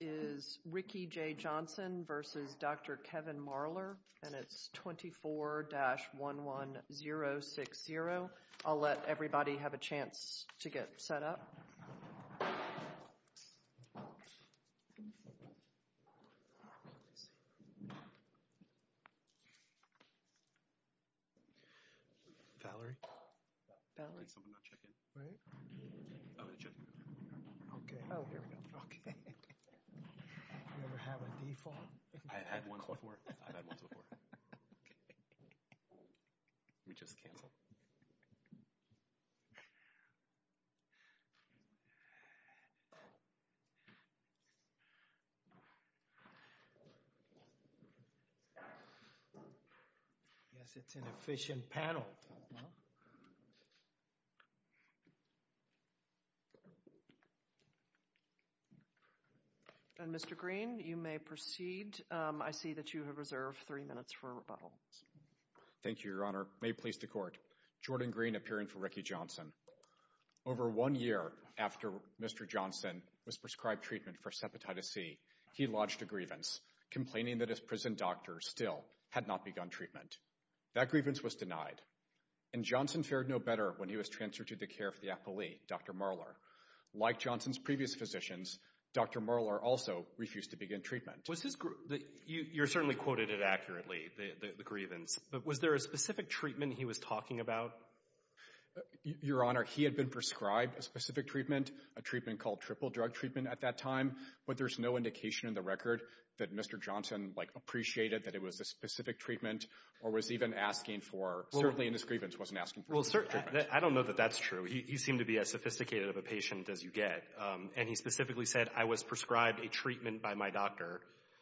and it is 24-11060. I will let everybody have a chance to get set up. We have a default. I've had one before. We just cancel. Yes, it's an efficient panel. And Mr. Green, you may proceed. I see that you have reserved three minutes for rebuttal. Thank you, Your Honor. May it please the Court. Jordan Green, appearing for Ricky Johnson. Over one year after Mr. Johnson was prescribed treatment for sepatitis C, he lodged a grievance, complaining that his prison doctor still had not begun treatment. That grievance was denied. And Johnson fared no better when he was transferred to the care of the appellee, Dr. Marler. Like Johnson's previous physicians, Dr. Marler also refused to begin treatment. You certainly quoted it accurately, the grievance. But was there a specific treatment he was talking about? Your Honor, he had been prescribed a specific treatment, a treatment called triple drug treatment at that time. But there's no indication in the record that Mr. Johnson appreciated that it was a specific treatment or was even asking for, certainly in his grievance, wasn't asking for any treatment. Well, certainly, I don't know that that's true. He seemed to be as sophisticated of a patient as you get. And he specifically said, I was prescribed a treatment by my doctor.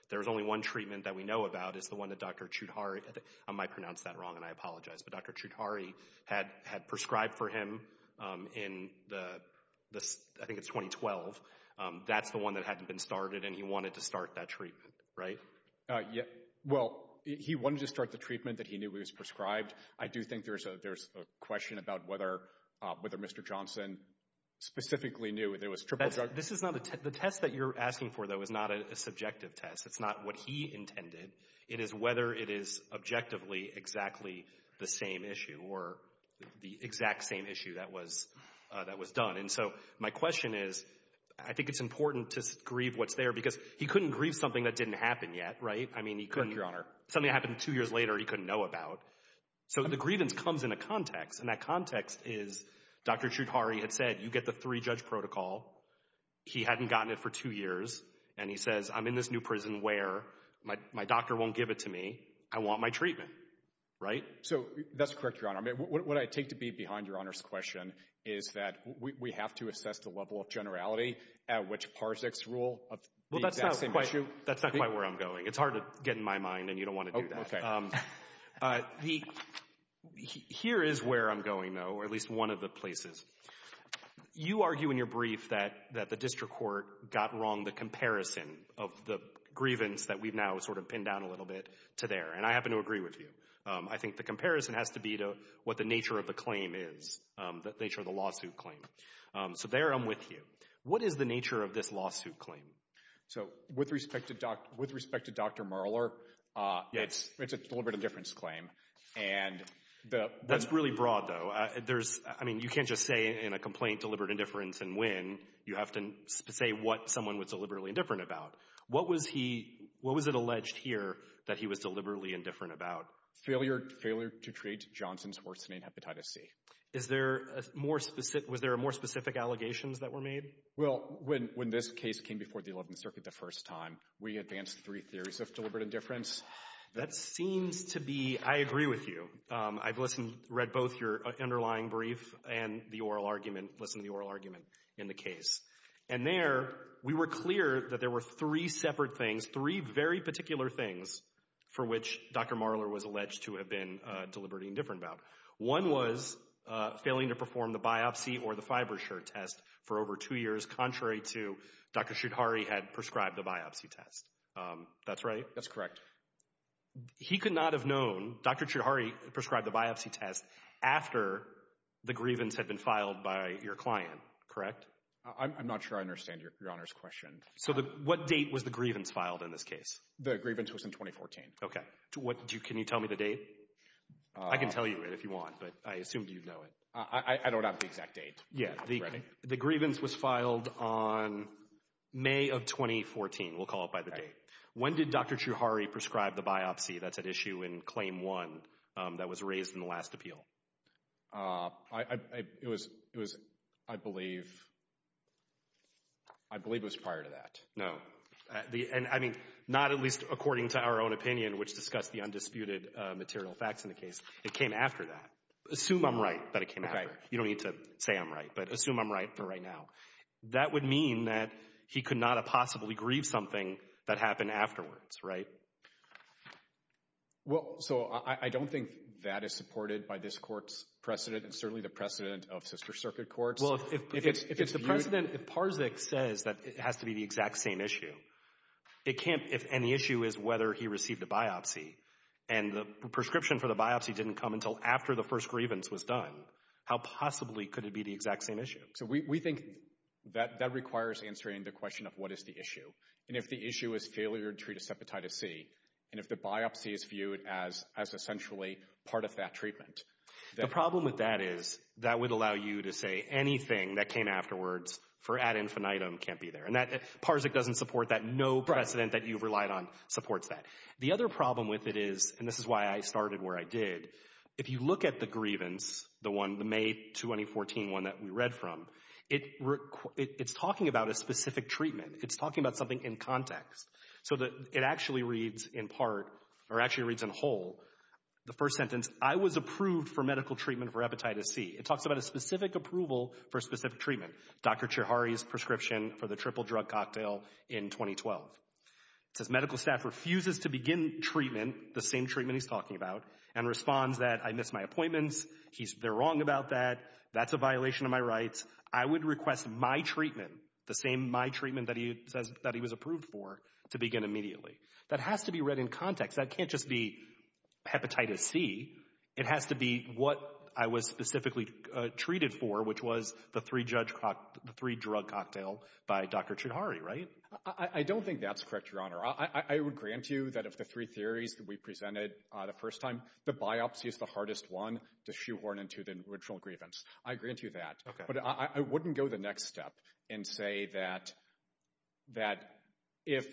There was only one treatment that we know about. It's the one that Dr. Choudhary, I might pronounce that wrong and I apologize, but Dr. Choudhary had prescribed for him in the, I think it's 2012. That's the one that hadn't been started and he wanted to start that treatment, right? Well, he wanted to start the treatment that he knew he was prescribed. I do think there's a question about whether Mr. Johnson specifically knew that it was triple drug. The test that you're asking for, though, is not a subjective test. It's not what he intended. It is whether it is objectively exactly the same issue or the exact same issue that was done. And so my question is, I think it's important to grieve what's there because he couldn't grieve something that didn't happen yet, right? Correct, Your Honor. Something happened two years later he couldn't know about. So the grievance comes in a context, and that context is Dr. Choudhary had said, you get the three-judge protocol. He hadn't gotten it for two years, and he says, I'm in this new prison where my doctor won't give it to me. I want my treatment, right? So that's correct, Your Honor. What I take to be behind Your Honor's question is that we have to assess the level of generality at which Parzik's rule of the exact same issue. Well, that's not quite where I'm going. It's hard to get in my mind, and you don't want to do that. Here is where I'm going, though, or at least one of the places. You argue in your brief that the district court got wrong the comparison of the grievance that we've now sort of pinned down a little bit to there, and I happen to agree with you. I think the comparison has to be to what the nature of the claim is, the nature of the lawsuit claim. So there I'm with you. What is the nature of this lawsuit claim? So with respect to Dr. Marler, it's a deliberate indifference claim. That's really broad, though. I mean, you can't just say in a complaint deliberate indifference and win. You have to say what someone was deliberately indifferent about. What was it alleged here that he was deliberately indifferent about? Failure to treat Johnson's horsemane hepatitis C. Was there more specific allegations that were made? Well, when this case came before the 11th Circuit the first time, we advanced three theories of deliberate indifference. That seems to be, I agree with you. I've read both your underlying brief and the oral argument, listened to the oral argument in the case. And there we were clear that there were three separate things, three very particular things, for which Dr. Marler was alleged to have been deliberately indifferent about. One was failing to perform the biopsy or the Fibershirt test for over two years, contrary to Dr. Choudhary had prescribed the biopsy test. That's right? That's correct. He could not have known Dr. Choudhary prescribed the biopsy test after the grievance had been filed by your client, correct? I'm not sure I understand your Honor's question. So what date was the grievance filed in this case? The grievance was in 2014. Okay. Can you tell me the date? I can tell you it if you want, but I assume you know it. I don't have the exact date. The grievance was filed on May of 2014. We'll call it by the date. When did Dr. Choudhary prescribe the biopsy that's at issue in Claim 1 that was raised in the last appeal? It was, I believe, I believe it was prior to that. No. I mean, not at least according to our own opinion, which discussed the undisputed material facts in the case. It came after that. Assume I'm right that it came after. You don't need to say I'm right, but assume I'm right for right now. That would mean that he could not have possibly grieved something that happened afterwards, right? Well, so I don't think that is supported by this Court's precedent and certainly the precedent of sister circuit courts. Well, if the precedent, if Parzik says that it has to be the exact same issue, and the issue is whether he received a biopsy, and the prescription for the biopsy didn't come until after the first grievance was done, how possibly could it be the exact same issue? So we think that that requires answering the question of what is the issue, and if the issue is failure to treat asepatitis C, and if the biopsy is viewed as essentially part of that treatment. The problem with that is that would allow you to say anything that came afterwards for ad infinitum can't be there. And Parzik doesn't support that. No precedent that you've relied on supports that. The other problem with it is, and this is why I started where I did, if you look at the grievance, the May 2014 one that we read from, it's talking about a specific treatment. It's talking about something in context. So it actually reads in part or actually reads in whole. The first sentence, I was approved for medical treatment for epititis C. It talks about a specific approval for a specific treatment, Dr. Chihari's prescription for the triple drug cocktail in 2012. It says medical staff refuses to begin treatment, the same treatment he's talking about, and responds that I missed my appointments, they're wrong about that, that's a violation of my rights. I would request my treatment, the same my treatment that he was approved for, to begin immediately. That has to be read in context. That can't just be hepatitis C. It has to be what I was specifically treated for, which was the three drug cocktail by Dr. Chihari, right? I don't think that's correct, Your Honor. I would grant you that of the three theories that we presented the first time, the biopsy is the hardest one to shoehorn into the original grievance. I grant you that. But I wouldn't go the next step and say that if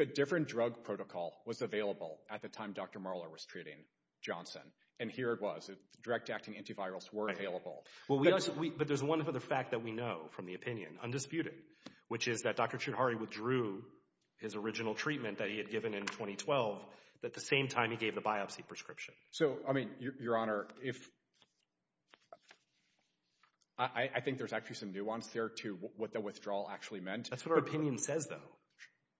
a different drug protocol was available at the time Dr. Marler was treating Johnson, and here it was, direct acting antivirals were available. But there's one other fact that we know from the opinion, undisputed, which is that Dr. Chihari withdrew his original treatment that he had given in 2012 at the same time he gave the biopsy prescription. So, I mean, Your Honor, I think there's actually some nuance there to what the withdrawal actually meant. That's what our opinion says, though,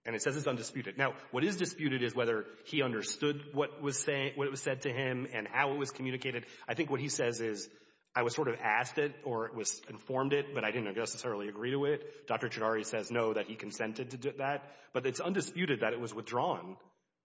and it says it's undisputed. Now, what is disputed is whether he understood what was said to him and how it was communicated. I think what he says is, I was sort of asked it or it was informed it, but I didn't necessarily agree to it. Dr. Chihari says no, that he consented to that. But it's undisputed that it was withdrawn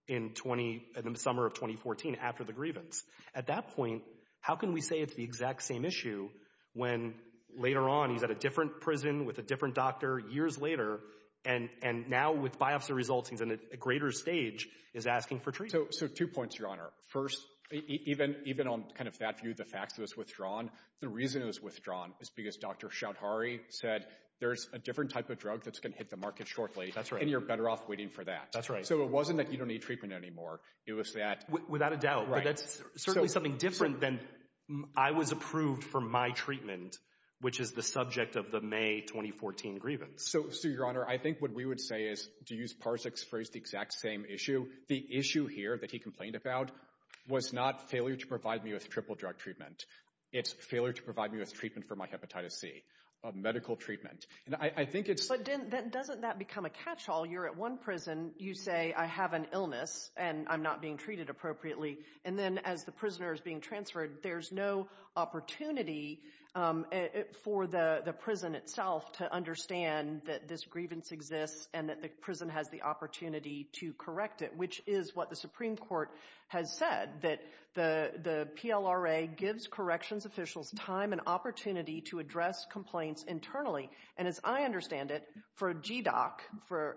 in the summer of 2014 after the grievance. At that point, how can we say it's the exact same issue when later on he's at a different prison with a different doctor years later, and now with biopsy results, he's in a greater stage, is asking for treatment. So two points, Your Honor. First, even on kind of that view, the fact that it was withdrawn, the reason it was withdrawn is because Dr. Chihari said, there's a different type of drug that's going to hit the market shortly, and you're better off waiting for that. So it wasn't that you don't need treatment anymore. It was that— Without a doubt. But that's certainly something different than I was approved for my treatment, which is the subject of the May 2014 grievance. So, Sue, Your Honor, I think what we would say is, to use Parzak's phrase, the exact same issue. The issue here that he complained about was not failure to provide me with triple drug treatment. It's failure to provide me with treatment for my hepatitis C, medical treatment. And I think it's— But doesn't that become a catch-all? You're at one prison. You say, I have an illness, and I'm not being treated appropriately. And then as the prisoner is being transferred, there's no opportunity for the prison itself to understand that this grievance exists and that the prison has the opportunity to correct it, which is what the Supreme Court has said, that the PLRA gives corrections officials time and opportunity to address complaints internally. And as I understand it, for a GDOC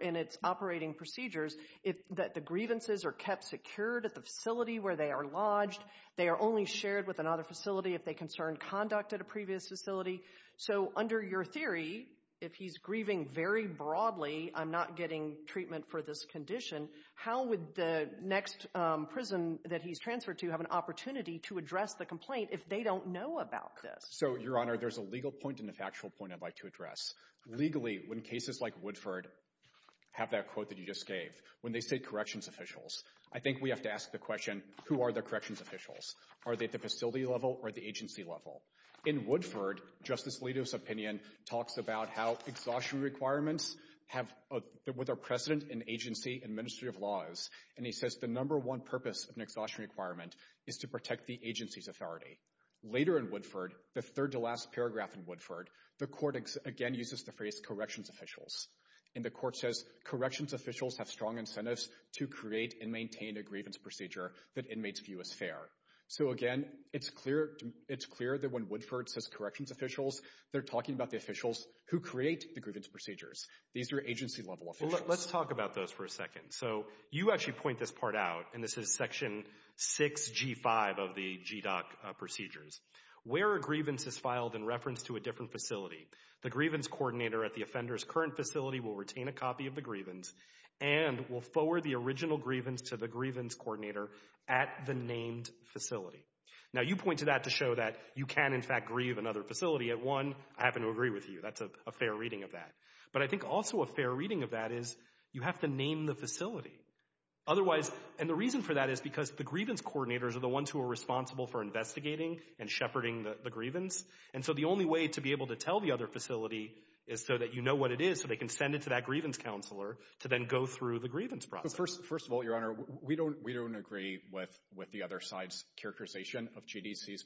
in its operating procedures, the grievances are kept secured at the facility where they are lodged. They are only shared with another facility if they concern conduct at a previous facility. So under your theory, if he's grieving very broadly, I'm not getting treatment for this condition, how would the next prison that he's transferred to have an opportunity to address the complaint if they don't know about this? So, Your Honor, there's a legal point and a factual point I'd like to address. Legally, when cases like Woodford have that quote that you just gave, when they say corrections officials, I think we have to ask the question, who are the corrections officials? Are they at the facility level or the agency level? In Woodford, Justice Alito's opinion talks about how exhaustion requirements have a precedent in agency and Ministry of Laws, and he says the number one purpose of an exhaustion requirement is to protect the agency's authority. Later in Woodford, the third to last paragraph in Woodford, the court again uses the phrase corrections officials, and the court says corrections officials have strong incentives to create and maintain a grievance procedure that inmates view as fair. So again, it's clear that when Woodford says corrections officials, they're talking about the officials who create the grievance procedures. These are agency level officials. Let's talk about those for a second. So you actually point this part out, and this is section 6G5 of the GDOC procedures. Where a grievance is filed in reference to a different facility, the grievance coordinator at the offender's current facility will retain a copy of the grievance and will forward the original grievance to the grievance coordinator at the named facility. Now you point to that to show that you can, in fact, grieve another facility. At one, I happen to agree with you. That's a fair reading of that. But I think also a fair reading of that is you have to name the facility. Otherwise, and the reason for that is because the grievance coordinators are the ones who are responsible for investigating and shepherding the grievance, and so the only way to be able to tell the other facility is so that you know what it is so they can send it to that grievance counselor to then go through the grievance process. First of all, Your Honor, we don't agree with the other side's characterization of GDC's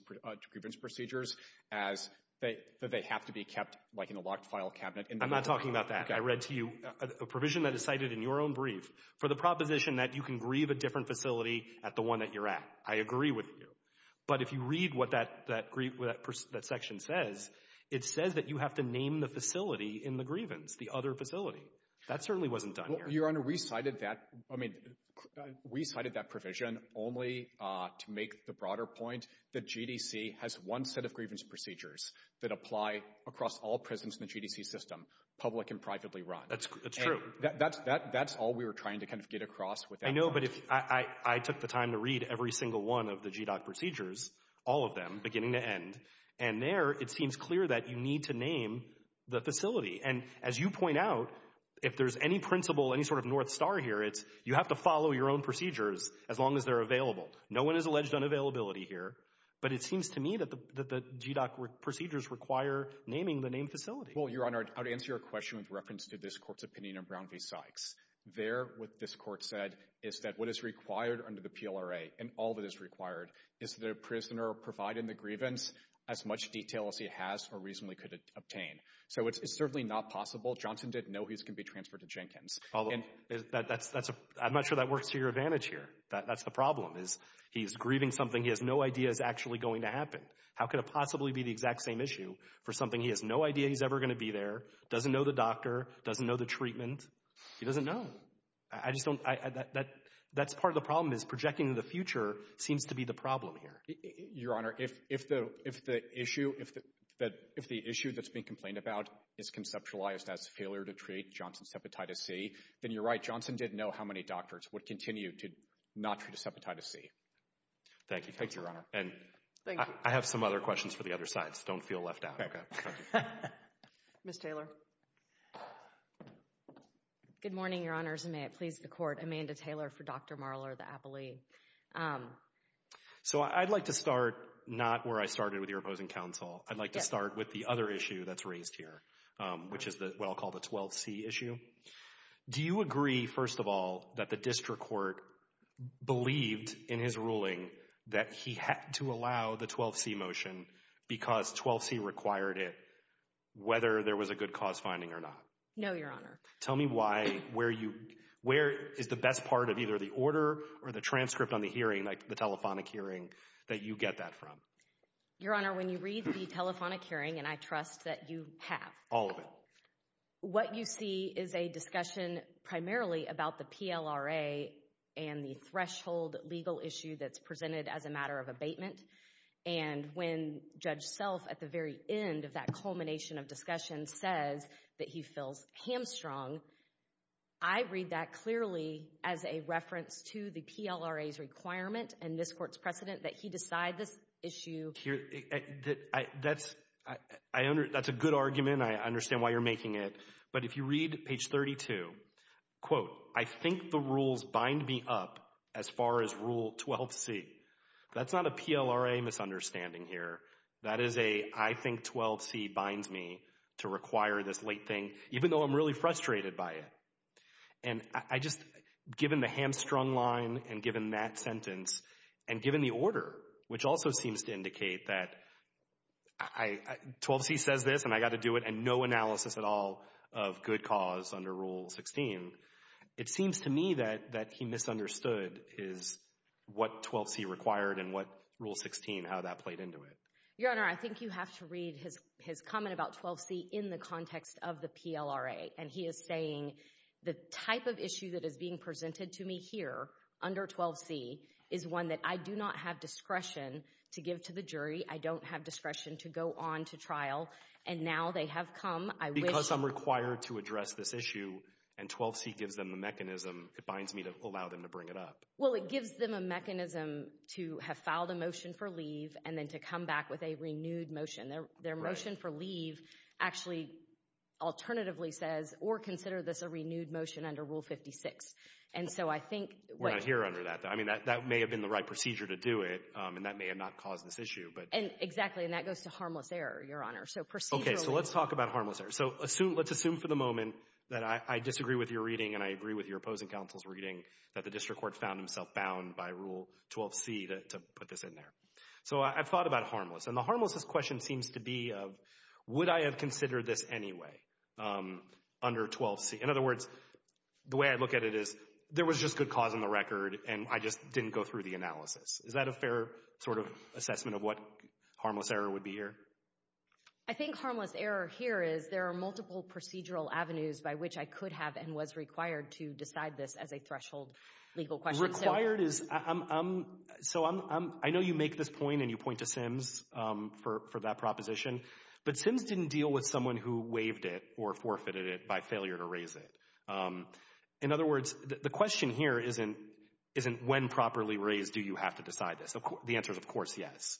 grievance procedures as that they have to be kept like in a locked file cabinet. I'm not talking about that. I read to you a provision that is cited in your own brief for the proposition that you can grieve a different facility at the one that you're at. I agree with you. But if you read what that section says, it says that you have to name the facility in the grievance, the other facility. That certainly wasn't done here. Well, Your Honor, we cited that provision only to make the broader point that GDC has one set of grievance procedures that apply across all prisons in the GDC system, public and privately run. That's true. That's all we were trying to kind of get across with that. I know, but I took the time to read every single one of the GDOC procedures, all of them beginning to end. And there it seems clear that you need to name the facility. And as you point out, if there's any principle, any sort of north star here, it's you have to follow your own procedures as long as they're available. No one has alleged unavailability here. But it seems to me that the GDOC procedures require naming the named facility. Well, Your Honor, I would answer your question with reference to this court's opinion of Brown v. Sykes. There, what this court said is that what is required under the PLRA, and all of it is required, is the prisoner provide in the grievance as much detail as he has or reasonably could obtain. So it's certainly not possible. Johnson didn't know he was going to be transferred to Jenkins. I'm not sure that works to your advantage here. That's the problem is he's grieving something he has no idea is actually going to happen. How could it possibly be the exact same issue for something he has no idea he's ever going to be there, doesn't know the doctor, doesn't know the treatment? He doesn't know. That's part of the problem is projecting the future seems to be the problem here. Your Honor, if the issue that's being complained about is conceptualized as failure to treat Johnson's hepatitis C, then you're right. Johnson didn't know how many doctors would continue to not treat his hepatitis C. Thank you. Thank you, Your Honor. I have some other questions for the other sides. Don't feel left out. Okay. Ms. Taylor. Good morning, Your Honors, and may it please the Court. Amanda Taylor for Dr. Marler, the appellee. So I'd like to start not where I started with your opposing counsel. I'd like to start with the other issue that's raised here, which is what I'll call the 12C issue. Do you agree, first of all, that the district court believed in his ruling that he had to allow the 12C motion because 12C required it, whether there was a good cause finding or not? No, Your Honor. Tell me why, where is the best part of either the order or the transcript on the hearing, like the telephonic hearing, that you get that from? Your Honor, when you read the telephonic hearing, and I trust that you have. All of it. What you see is a discussion primarily about the PLRA and the threshold legal issue that's presented as a matter of abatement. And when Judge Self at the very end of that culmination of discussion says that he feels hamstrung, I read that clearly as a reference to the PLRA's requirement and this court's precedent that he decide this issue. That's a good argument. I understand why you're making it. But if you read page 32, quote, I think the rules bind me up as far as Rule 12C. That's not a PLRA misunderstanding here. That is a I think 12C binds me to require this late thing, even though I'm really frustrated by it. And I just, given the hamstrung line and given that sentence and given the order, which also seems to indicate that 12C says this and I got to do it and no analysis at all of good cause under Rule 16, it seems to me that he misunderstood is what 12C required and what Rule 16, how that played into it. Your Honor, I think you have to read his comment about 12C in the context of the PLRA. And he is saying the type of issue that is being presented to me here under 12C is one that I do not have discretion to give to the jury. I don't have discretion to go on to trial. And now they have come. Because I'm required to address this issue and 12C gives them the mechanism, it binds me to allow them to bring it up. Well, it gives them a mechanism to have filed a motion for leave and then to come back with a renewed motion. Their motion for leave actually alternatively says or consider this a renewed motion under Rule 56. And so I think. We're not here under that. I mean, that may have been the right procedure to do it. And that may have not caused this issue. Exactly. And that goes to harmless error, Your Honor. So procedurally. So let's talk about harmless error. So let's assume for the moment that I disagree with your reading and I agree with your opposing counsel's reading that the district court found himself bound by Rule 12C to put this in there. So I've thought about harmless. And the harmless question seems to be would I have considered this anyway under 12C? In other words, the way I look at it is there was just good cause on the record and I just didn't go through the analysis. Is that a fair sort of assessment of what harmless error would be here? I think harmless error here is there are multiple procedural avenues by which I could have and was required to decide this as a threshold legal question. Required is. So I know you make this point and you point to Sims for that proposition. But Sims didn't deal with someone who waived it or forfeited it by failure to raise it. In other words, the question here isn't when properly raised do you have to decide this? The answer is, of course, yes.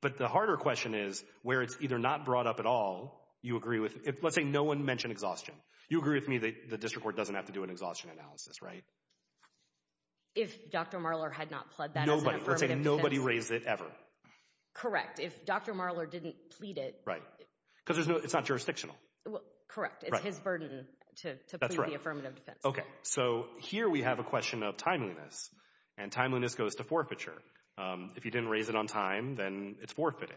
But the harder question is where it's either not brought up at all you agree with. Let's say no one mentioned exhaustion. You agree with me that the district court doesn't have to do an exhaustion analysis, right? If Dr. Marler had not pled that. Nobody. Let's say nobody raised it ever. Correct. If Dr. Marler didn't plead it. Right. Because it's not jurisdictional. Correct. It's his burden to the affirmative defense. So here we have a question of timeliness and timeliness goes to forfeiture. If you didn't raise it on time, then it's forfeited.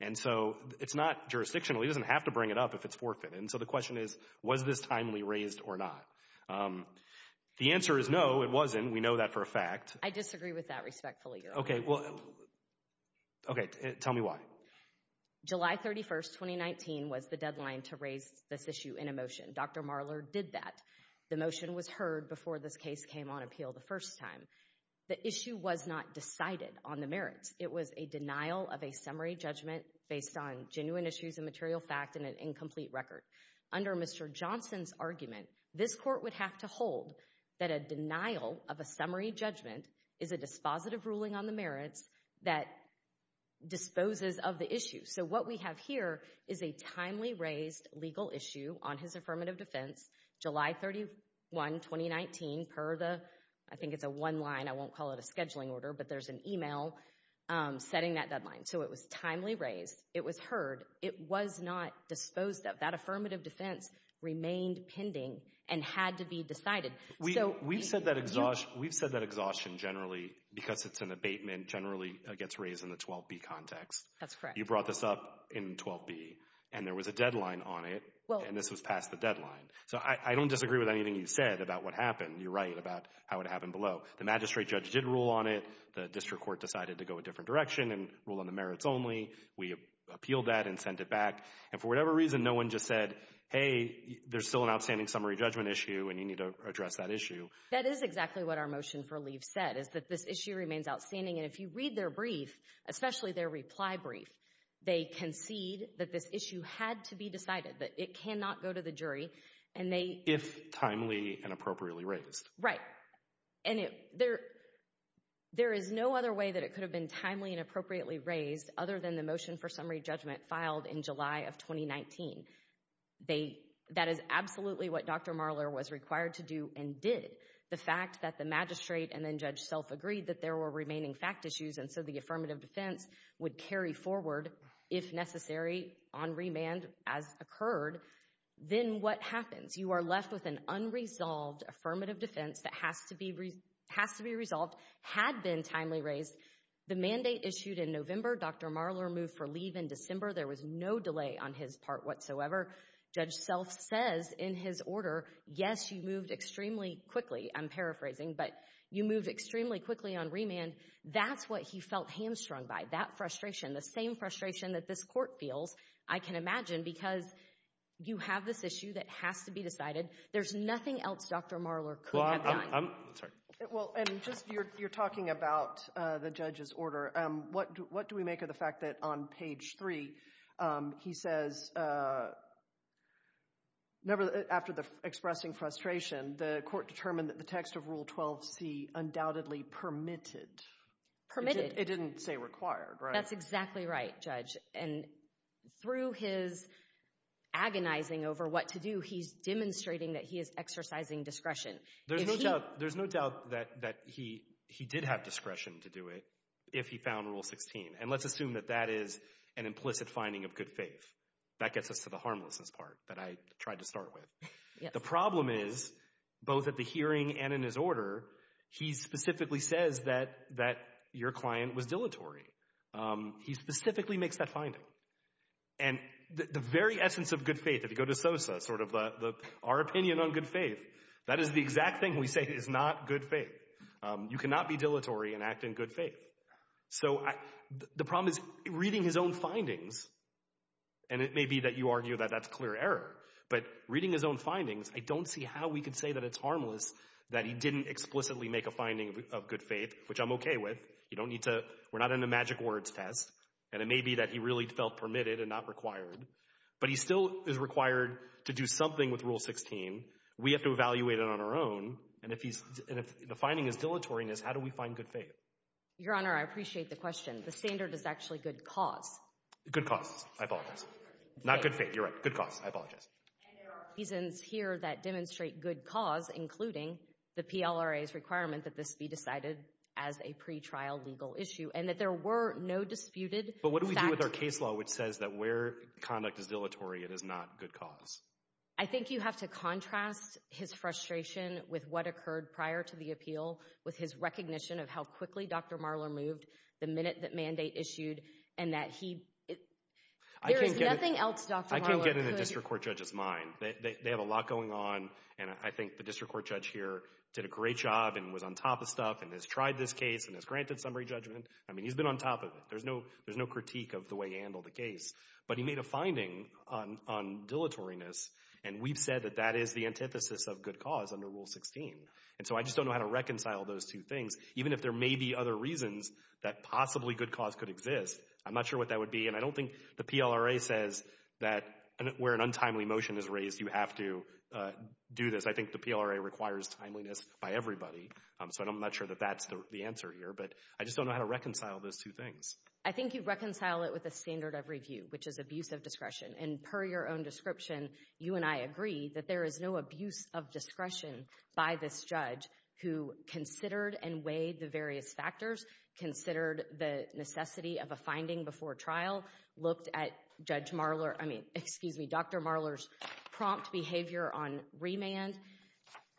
And so it's not jurisdictional. He doesn't have to bring it up if it's forfeited. And so the question is, was this timely raised or not? The answer is no, it wasn't. We know that for a fact. I disagree with that respectfully. Okay. Well, okay. Tell me why. July 31st, 2019 was the deadline to raise this issue in a motion. Dr. Marler did that. The motion was heard before this case came on appeal the first time. The issue was not decided on the merits. It was a denial of a summary judgment based on genuine issues and material fact and an incomplete record. Under Mr. Johnson's argument, this court would have to hold that a denial of a summary judgment is a dispositive ruling on the merits that disposes of the issue. So what we have here is a timely raised legal issue on his affirmative defense. July 31, 2019, per the, I think it's a one line, I won't call it a scheduling order, but there's an email setting that deadline. So it was timely raised. It was heard. It was not disposed of. That affirmative defense remained pending and had to be decided. We've said that exhaustion generally, because it's an abatement, generally gets raised in the 12B context. That's correct. You brought this up in 12B, and there was a deadline on it, and this was past the deadline. So I don't disagree with anything you said about what happened. You're right about how it happened below. The magistrate judge did rule on it. The district court decided to go a different direction and rule on the merits only. We appealed that and sent it back. And for whatever reason, no one just said, hey, there's still an outstanding summary judgment issue, and you need to address that issue. That is exactly what our motion for leave said, is that this issue remains outstanding. And if you read their brief, especially their reply brief, they concede that this issue had to be decided, that it cannot go to the jury. If timely and appropriately raised. Right. And there is no other way that it could have been timely and appropriately raised other than the motion for summary judgment filed in July of 2019. That is absolutely what Dr. Marler was required to do and did. The fact that the magistrate and then Judge Self agreed that there were remaining fact issues, and so the affirmative defense would carry forward, if necessary, on remand as occurred. Then what happens? You are left with an unresolved affirmative defense that has to be resolved, had been timely raised. The mandate issued in November. Dr. Marler moved for leave in December. There was no delay on his part whatsoever. Judge Self says in his order, yes, you moved extremely quickly. I'm paraphrasing, but you moved extremely quickly on remand. That's what he felt hamstrung by, that frustration, the same frustration that this court feels, I can imagine, because you have this issue that has to be decided. There's nothing else Dr. Marler could have done. You're talking about the judge's order. What do we make of the fact that on page three he says, after expressing frustration, the court determined that the text of Rule 12c undoubtedly permitted. Permitted. It didn't say required. That's exactly right, Judge. Through his agonizing over what to do, he's demonstrating that he is exercising discretion. There's no doubt that he did have discretion to do it if he found Rule 16. And let's assume that that is an implicit finding of good faith. That gets us to the harmlessness part that I tried to start with. The problem is, both at the hearing and in his order, he specifically says that your client was dilatory. He specifically makes that finding. And the very essence of good faith, if you go to Sosa, sort of our opinion on good faith, that is the exact thing we say is not good faith. You cannot be dilatory and act in good faith. So the problem is, reading his own findings, and it may be that you argue that that's clear error, but reading his own findings, I don't see how we could say that it's harmless that he didn't explicitly make a finding of good faith, which I'm okay with. We're not in a magic words test. And it may be that he really felt permitted and not required. But he still is required to do something with Rule 16. We have to evaluate it on our own. And if the finding is dilatoriness, how do we find good faith? Your Honor, I appreciate the question. The standard is actually good cause. Good cause. I apologize. Not good faith. You're right. Good cause. I apologize. And there are reasons here that demonstrate good cause, including the PLRA's requirement that this be decided as a pretrial legal issue, and that there were no disputed facts. But what do we do with our case law, which says that where conduct is dilatory, it is not good cause? I think you have to contrast his frustration with what occurred prior to the appeal with his recognition of how quickly Dr. Marler moved the minute that mandate issued, and that he – There is nothing else Dr. Marler could – I can't get into the district court judge's mind. They have a lot going on, and I think the district court judge here did a great job and was on top of stuff and has tried this case and has granted summary judgment. I mean, he's been on top of it. There's no critique of the way he handled the case. But he made a finding on dilatoriness, and we've said that that is the antithesis of good cause under Rule 16. And so I just don't know how to reconcile those two things, even if there may be other reasons that possibly good cause could exist. I'm not sure what that would be, and I don't think the PLRA says that where an untimely motion is raised, you have to do this. I think the PLRA requires timeliness by everybody, so I'm not sure that that's the answer here. But I just don't know how to reconcile those two things. I think you reconcile it with a standard of review, which is abuse of discretion. And per your own description, you and I agree that there is no abuse of discretion by this judge who considered and weighed the various factors, considered the necessity of a finding before trial, looked at Judge Marler—I mean, excuse me, Dr. Marler's prompt behavior on remand.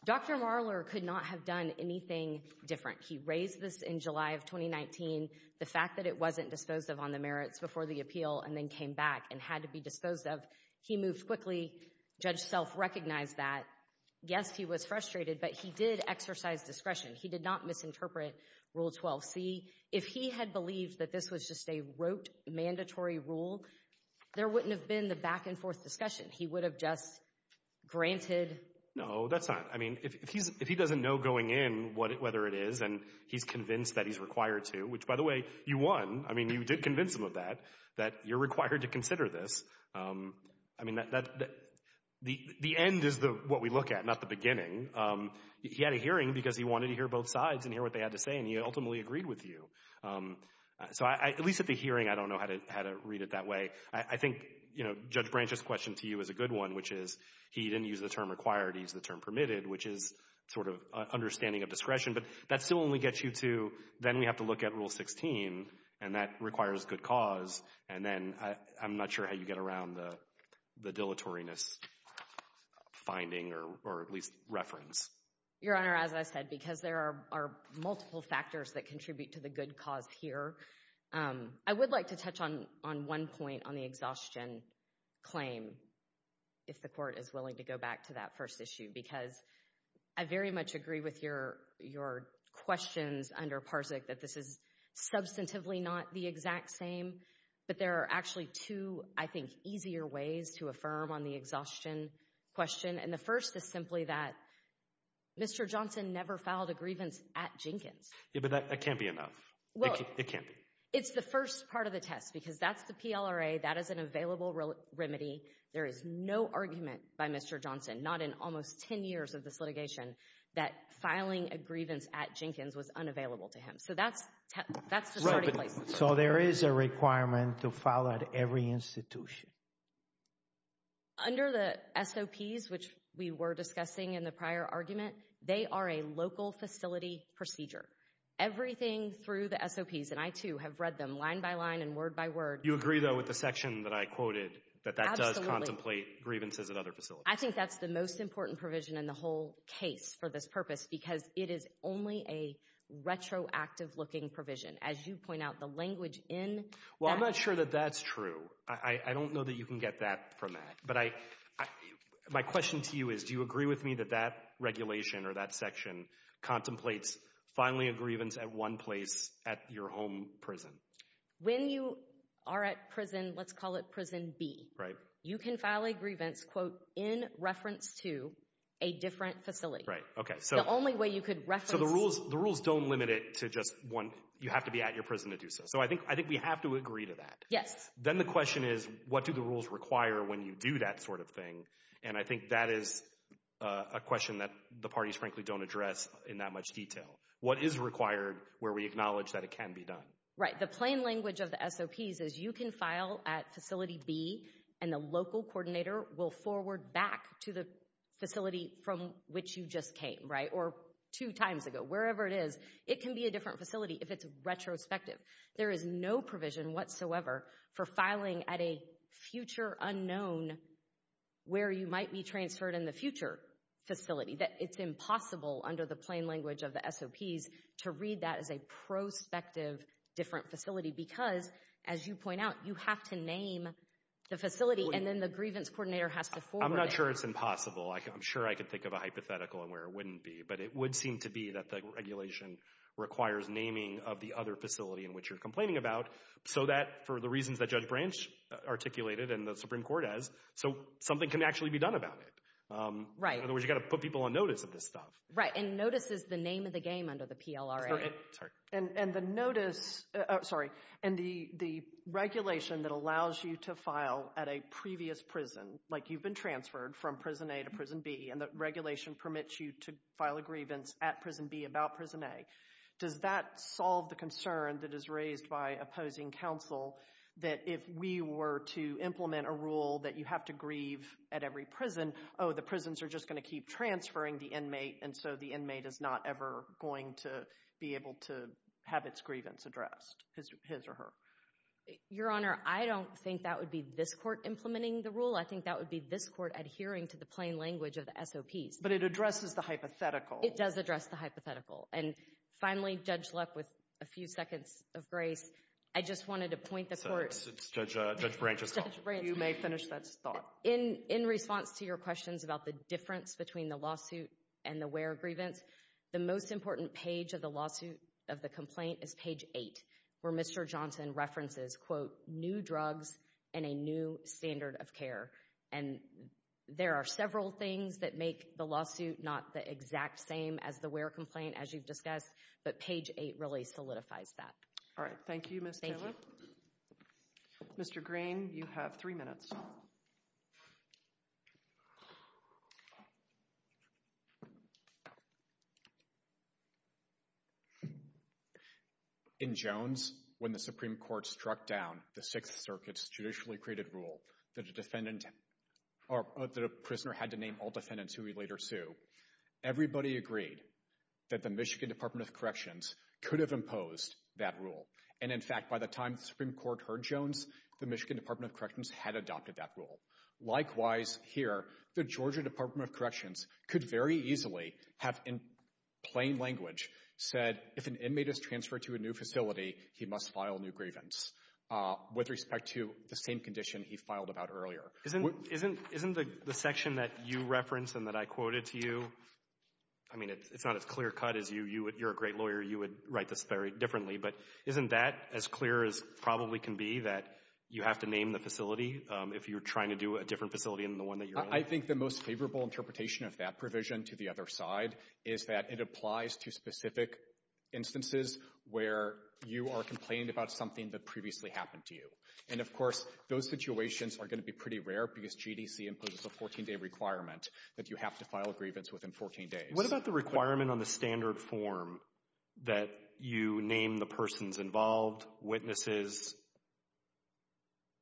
Dr. Marler could not have done anything different. He raised this in July of 2019. The fact that it wasn't disposed of on the merits before the appeal and then came back and had to be disposed of, he moved quickly. Judge Self recognized that. Yes, he was frustrated, but he did exercise discretion. He did not misinterpret Rule 12c. If he had believed that this was just a rote, mandatory rule, there wouldn't have been the back-and-forth discussion. He would have just granted— No, that's not—I mean, if he doesn't know going in whether it is and he's convinced that he's required to— which, by the way, you won. I mean, you did convince him of that, that you're required to consider this. I mean, the end is what we look at, not the beginning. He had a hearing because he wanted to hear both sides and hear what they had to say, and he ultimately agreed with you. So at least at the hearing, I don't know how to read it that way. I think, you know, Judge Branch's question to you is a good one, which is he didn't use the term required. He used the term permitted, which is sort of understanding of discretion. But that still only gets you to—then we have to look at Rule 16, and that requires good cause. And then I'm not sure how you get around the dilatoriness finding or at least reference. Your Honor, as I said, because there are multiple factors that contribute to the good cause here, I would like to touch on one point on the exhaustion claim, if the Court is willing to go back to that first issue, because I very much agree with your questions under PARSIC that this is substantively not the exact same, but there are actually two, I think, easier ways to affirm on the exhaustion question, and the first is simply that Mr. Johnson never filed a grievance at Jenkins. Yeah, but that can't be enough. It can't be. It's the first part of the test, because that's the PLRA. That is an available remedy. There is no argument by Mr. Johnson, not in almost 10 years of this litigation, that filing a grievance at Jenkins was unavailable to him. So that's the starting place. So there is a requirement to file at every institution? Under the SOPs, which we were discussing in the prior argument, they are a local facility procedure. Everything through the SOPs, and I, too, have read them line by line and word by word. You agree, though, with the section that I quoted that that does contemplate grievances at other facilities? Absolutely. I think that's the most important provision in the whole case for this purpose, because it is only a retroactive-looking provision. As you point out, the language in that… Well, I'm not sure that that's true. I don't know that you can get that from that. But my question to you is, do you agree with me that that regulation or that section contemplates filing a grievance at one place at your home prison? When you are at prison, let's call it prison B, you can file a grievance, quote, in reference to a different facility. Right, okay. The only way you could reference… So the rules don't limit it to just one. You have to be at your prison to do so. So I think we have to agree to that. Then the question is, what do the rules require when you do that sort of thing? And I think that is a question that the parties, frankly, don't address in that much detail. What is required where we acknowledge that it can be done? Right. The plain language of the SOPs is you can file at Facility B, and the local coordinator will forward back to the facility from which you just came, right, or two times ago, wherever it is. It can be a different facility if it's retrospective. There is no provision whatsoever for filing at a future unknown where you might be transferred in the future facility. It's impossible under the plain language of the SOPs to read that as a prospective different facility because, as you point out, you have to name the facility, and then the grievance coordinator has to forward it. I'm not sure it's impossible. I'm sure I could think of a hypothetical and where it wouldn't be, but it would seem to be that the regulation requires naming of the other facility in which you're complaining about so that, for the reasons that Judge Branch articulated and the Supreme Court has, something can actually be done about it. Right. In other words, you've got to put people on notice of this stuff. Right, and notice is the name of the game under the PLRA. Sorry. And the regulation that allows you to file at a previous prison, like you've been transferred from Prison A to Prison B, and the regulation permits you to file a grievance at Prison B about Prison A, does that solve the concern that is raised by opposing counsel that if we were to implement a rule that you have to grieve at every prison, oh, the prisons are just going to keep transferring the inmate, and so the inmate is not ever going to be able to have its grievance addressed, his or her? Your Honor, I don't think that would be this court implementing the rule. I think that would be this court adhering to the plain language of the SOPs. But it addresses the hypothetical. It does address the hypothetical. And finally, Judge Luck, with a few seconds of grace, I just wanted to point the court. It's Judge Branch's call. You may finish that thought. In response to your questions about the difference between the lawsuit and the where grievance, the most important page of the lawsuit of the complaint is page 8, where Mr. Johnson references, quote, new drugs and a new standard of care. And there are several things that make the lawsuit not the exact same as the where complaint, as you've discussed, but page 8 really solidifies that. All right. Thank you, Ms. Taylor. Mr. Green, you have three minutes. Please. In Jones, when the Supreme Court struck down the Sixth Circuit's judicially created rule that a defendant or that a prisoner had to name all defendants who he later sued, everybody agreed that the Michigan Department of Corrections could have imposed that rule. And, in fact, by the time the Supreme Court heard Jones, the Michigan Department of Corrections had adopted that rule. Likewise, here, the Georgia Department of Corrections could very easily have, in plain language, said if an inmate is transferred to a new facility, he must file new grievance, with respect to the same condition he filed about earlier. Isn't the section that you reference and that I quoted to you, I mean, it's not as clear cut as you. You're a great lawyer. You would write this very differently. But isn't that as clear as probably can be that you have to name the facility if you're trying to do a different facility than the one that you're in? I think the most favorable interpretation of that provision, to the other side, is that it applies to specific instances where you are complaining about something that previously happened to you. And, of course, those situations are going to be pretty rare because GDC imposes a 14-day requirement that you have to file a grievance within 14 days. What about the requirement on the standard form that you name the persons involved, witnesses,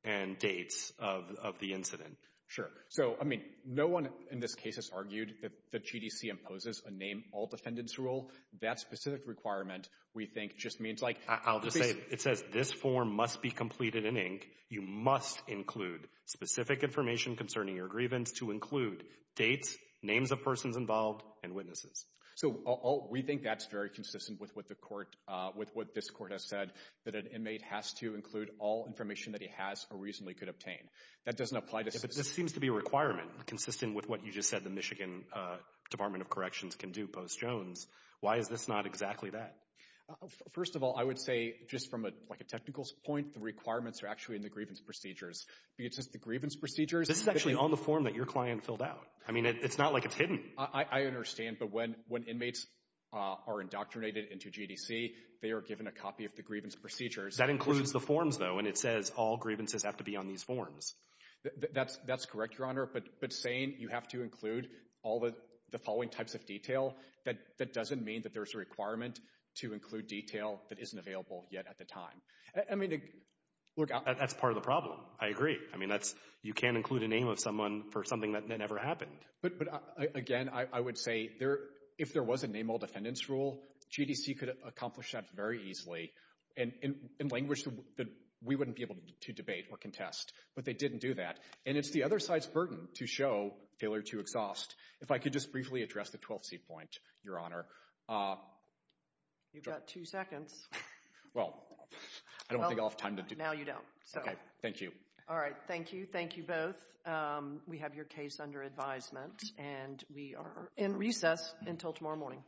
and dates of the incident? Sure. So, I mean, no one in this case has argued that GDC imposes a name all defendants rule. That specific requirement, we think, just means like— I'll just say, it says this form must be completed in ink. You must include specific information concerning your grievance to include dates, names of persons involved, and witnesses. So, we think that's very consistent with what this court has said, that an inmate has to include all information that he has or reasonably could obtain. That doesn't apply to— But this seems to be a requirement consistent with what you just said the Michigan Department of Corrections can do post-Jones. Why is this not exactly that? First of all, I would say just from a technical point, the requirements are actually in the grievance procedures. It's just the grievance procedures— This is actually on the form that your client filled out. I mean, it's not like it's hidden. I understand, but when inmates are indoctrinated into GDC, they are given a copy of the grievance procedures. That includes the forms, though, and it says all grievances have to be on these forms. That's correct, Your Honor, but saying you have to include all the following types of detail, that doesn't mean that there's a requirement to include detail that isn't available yet at the time. I mean— Look, that's part of the problem. I agree. I mean, you can't include a name of someone for something that never happened. But, again, I would say if there was a name all defendants rule, GDC could accomplish that very easily. In language that we wouldn't be able to debate or contest, but they didn't do that, and it's the other side's burden to show failure to exhaust. If I could just briefly address the 12th C point, Your Honor. You've got two seconds. Well, I don't think I'll have time to do— Now you don't. Thank you. All right. Thank you. Thank you both. We have your case under advisement, and we are in recess until tomorrow morning.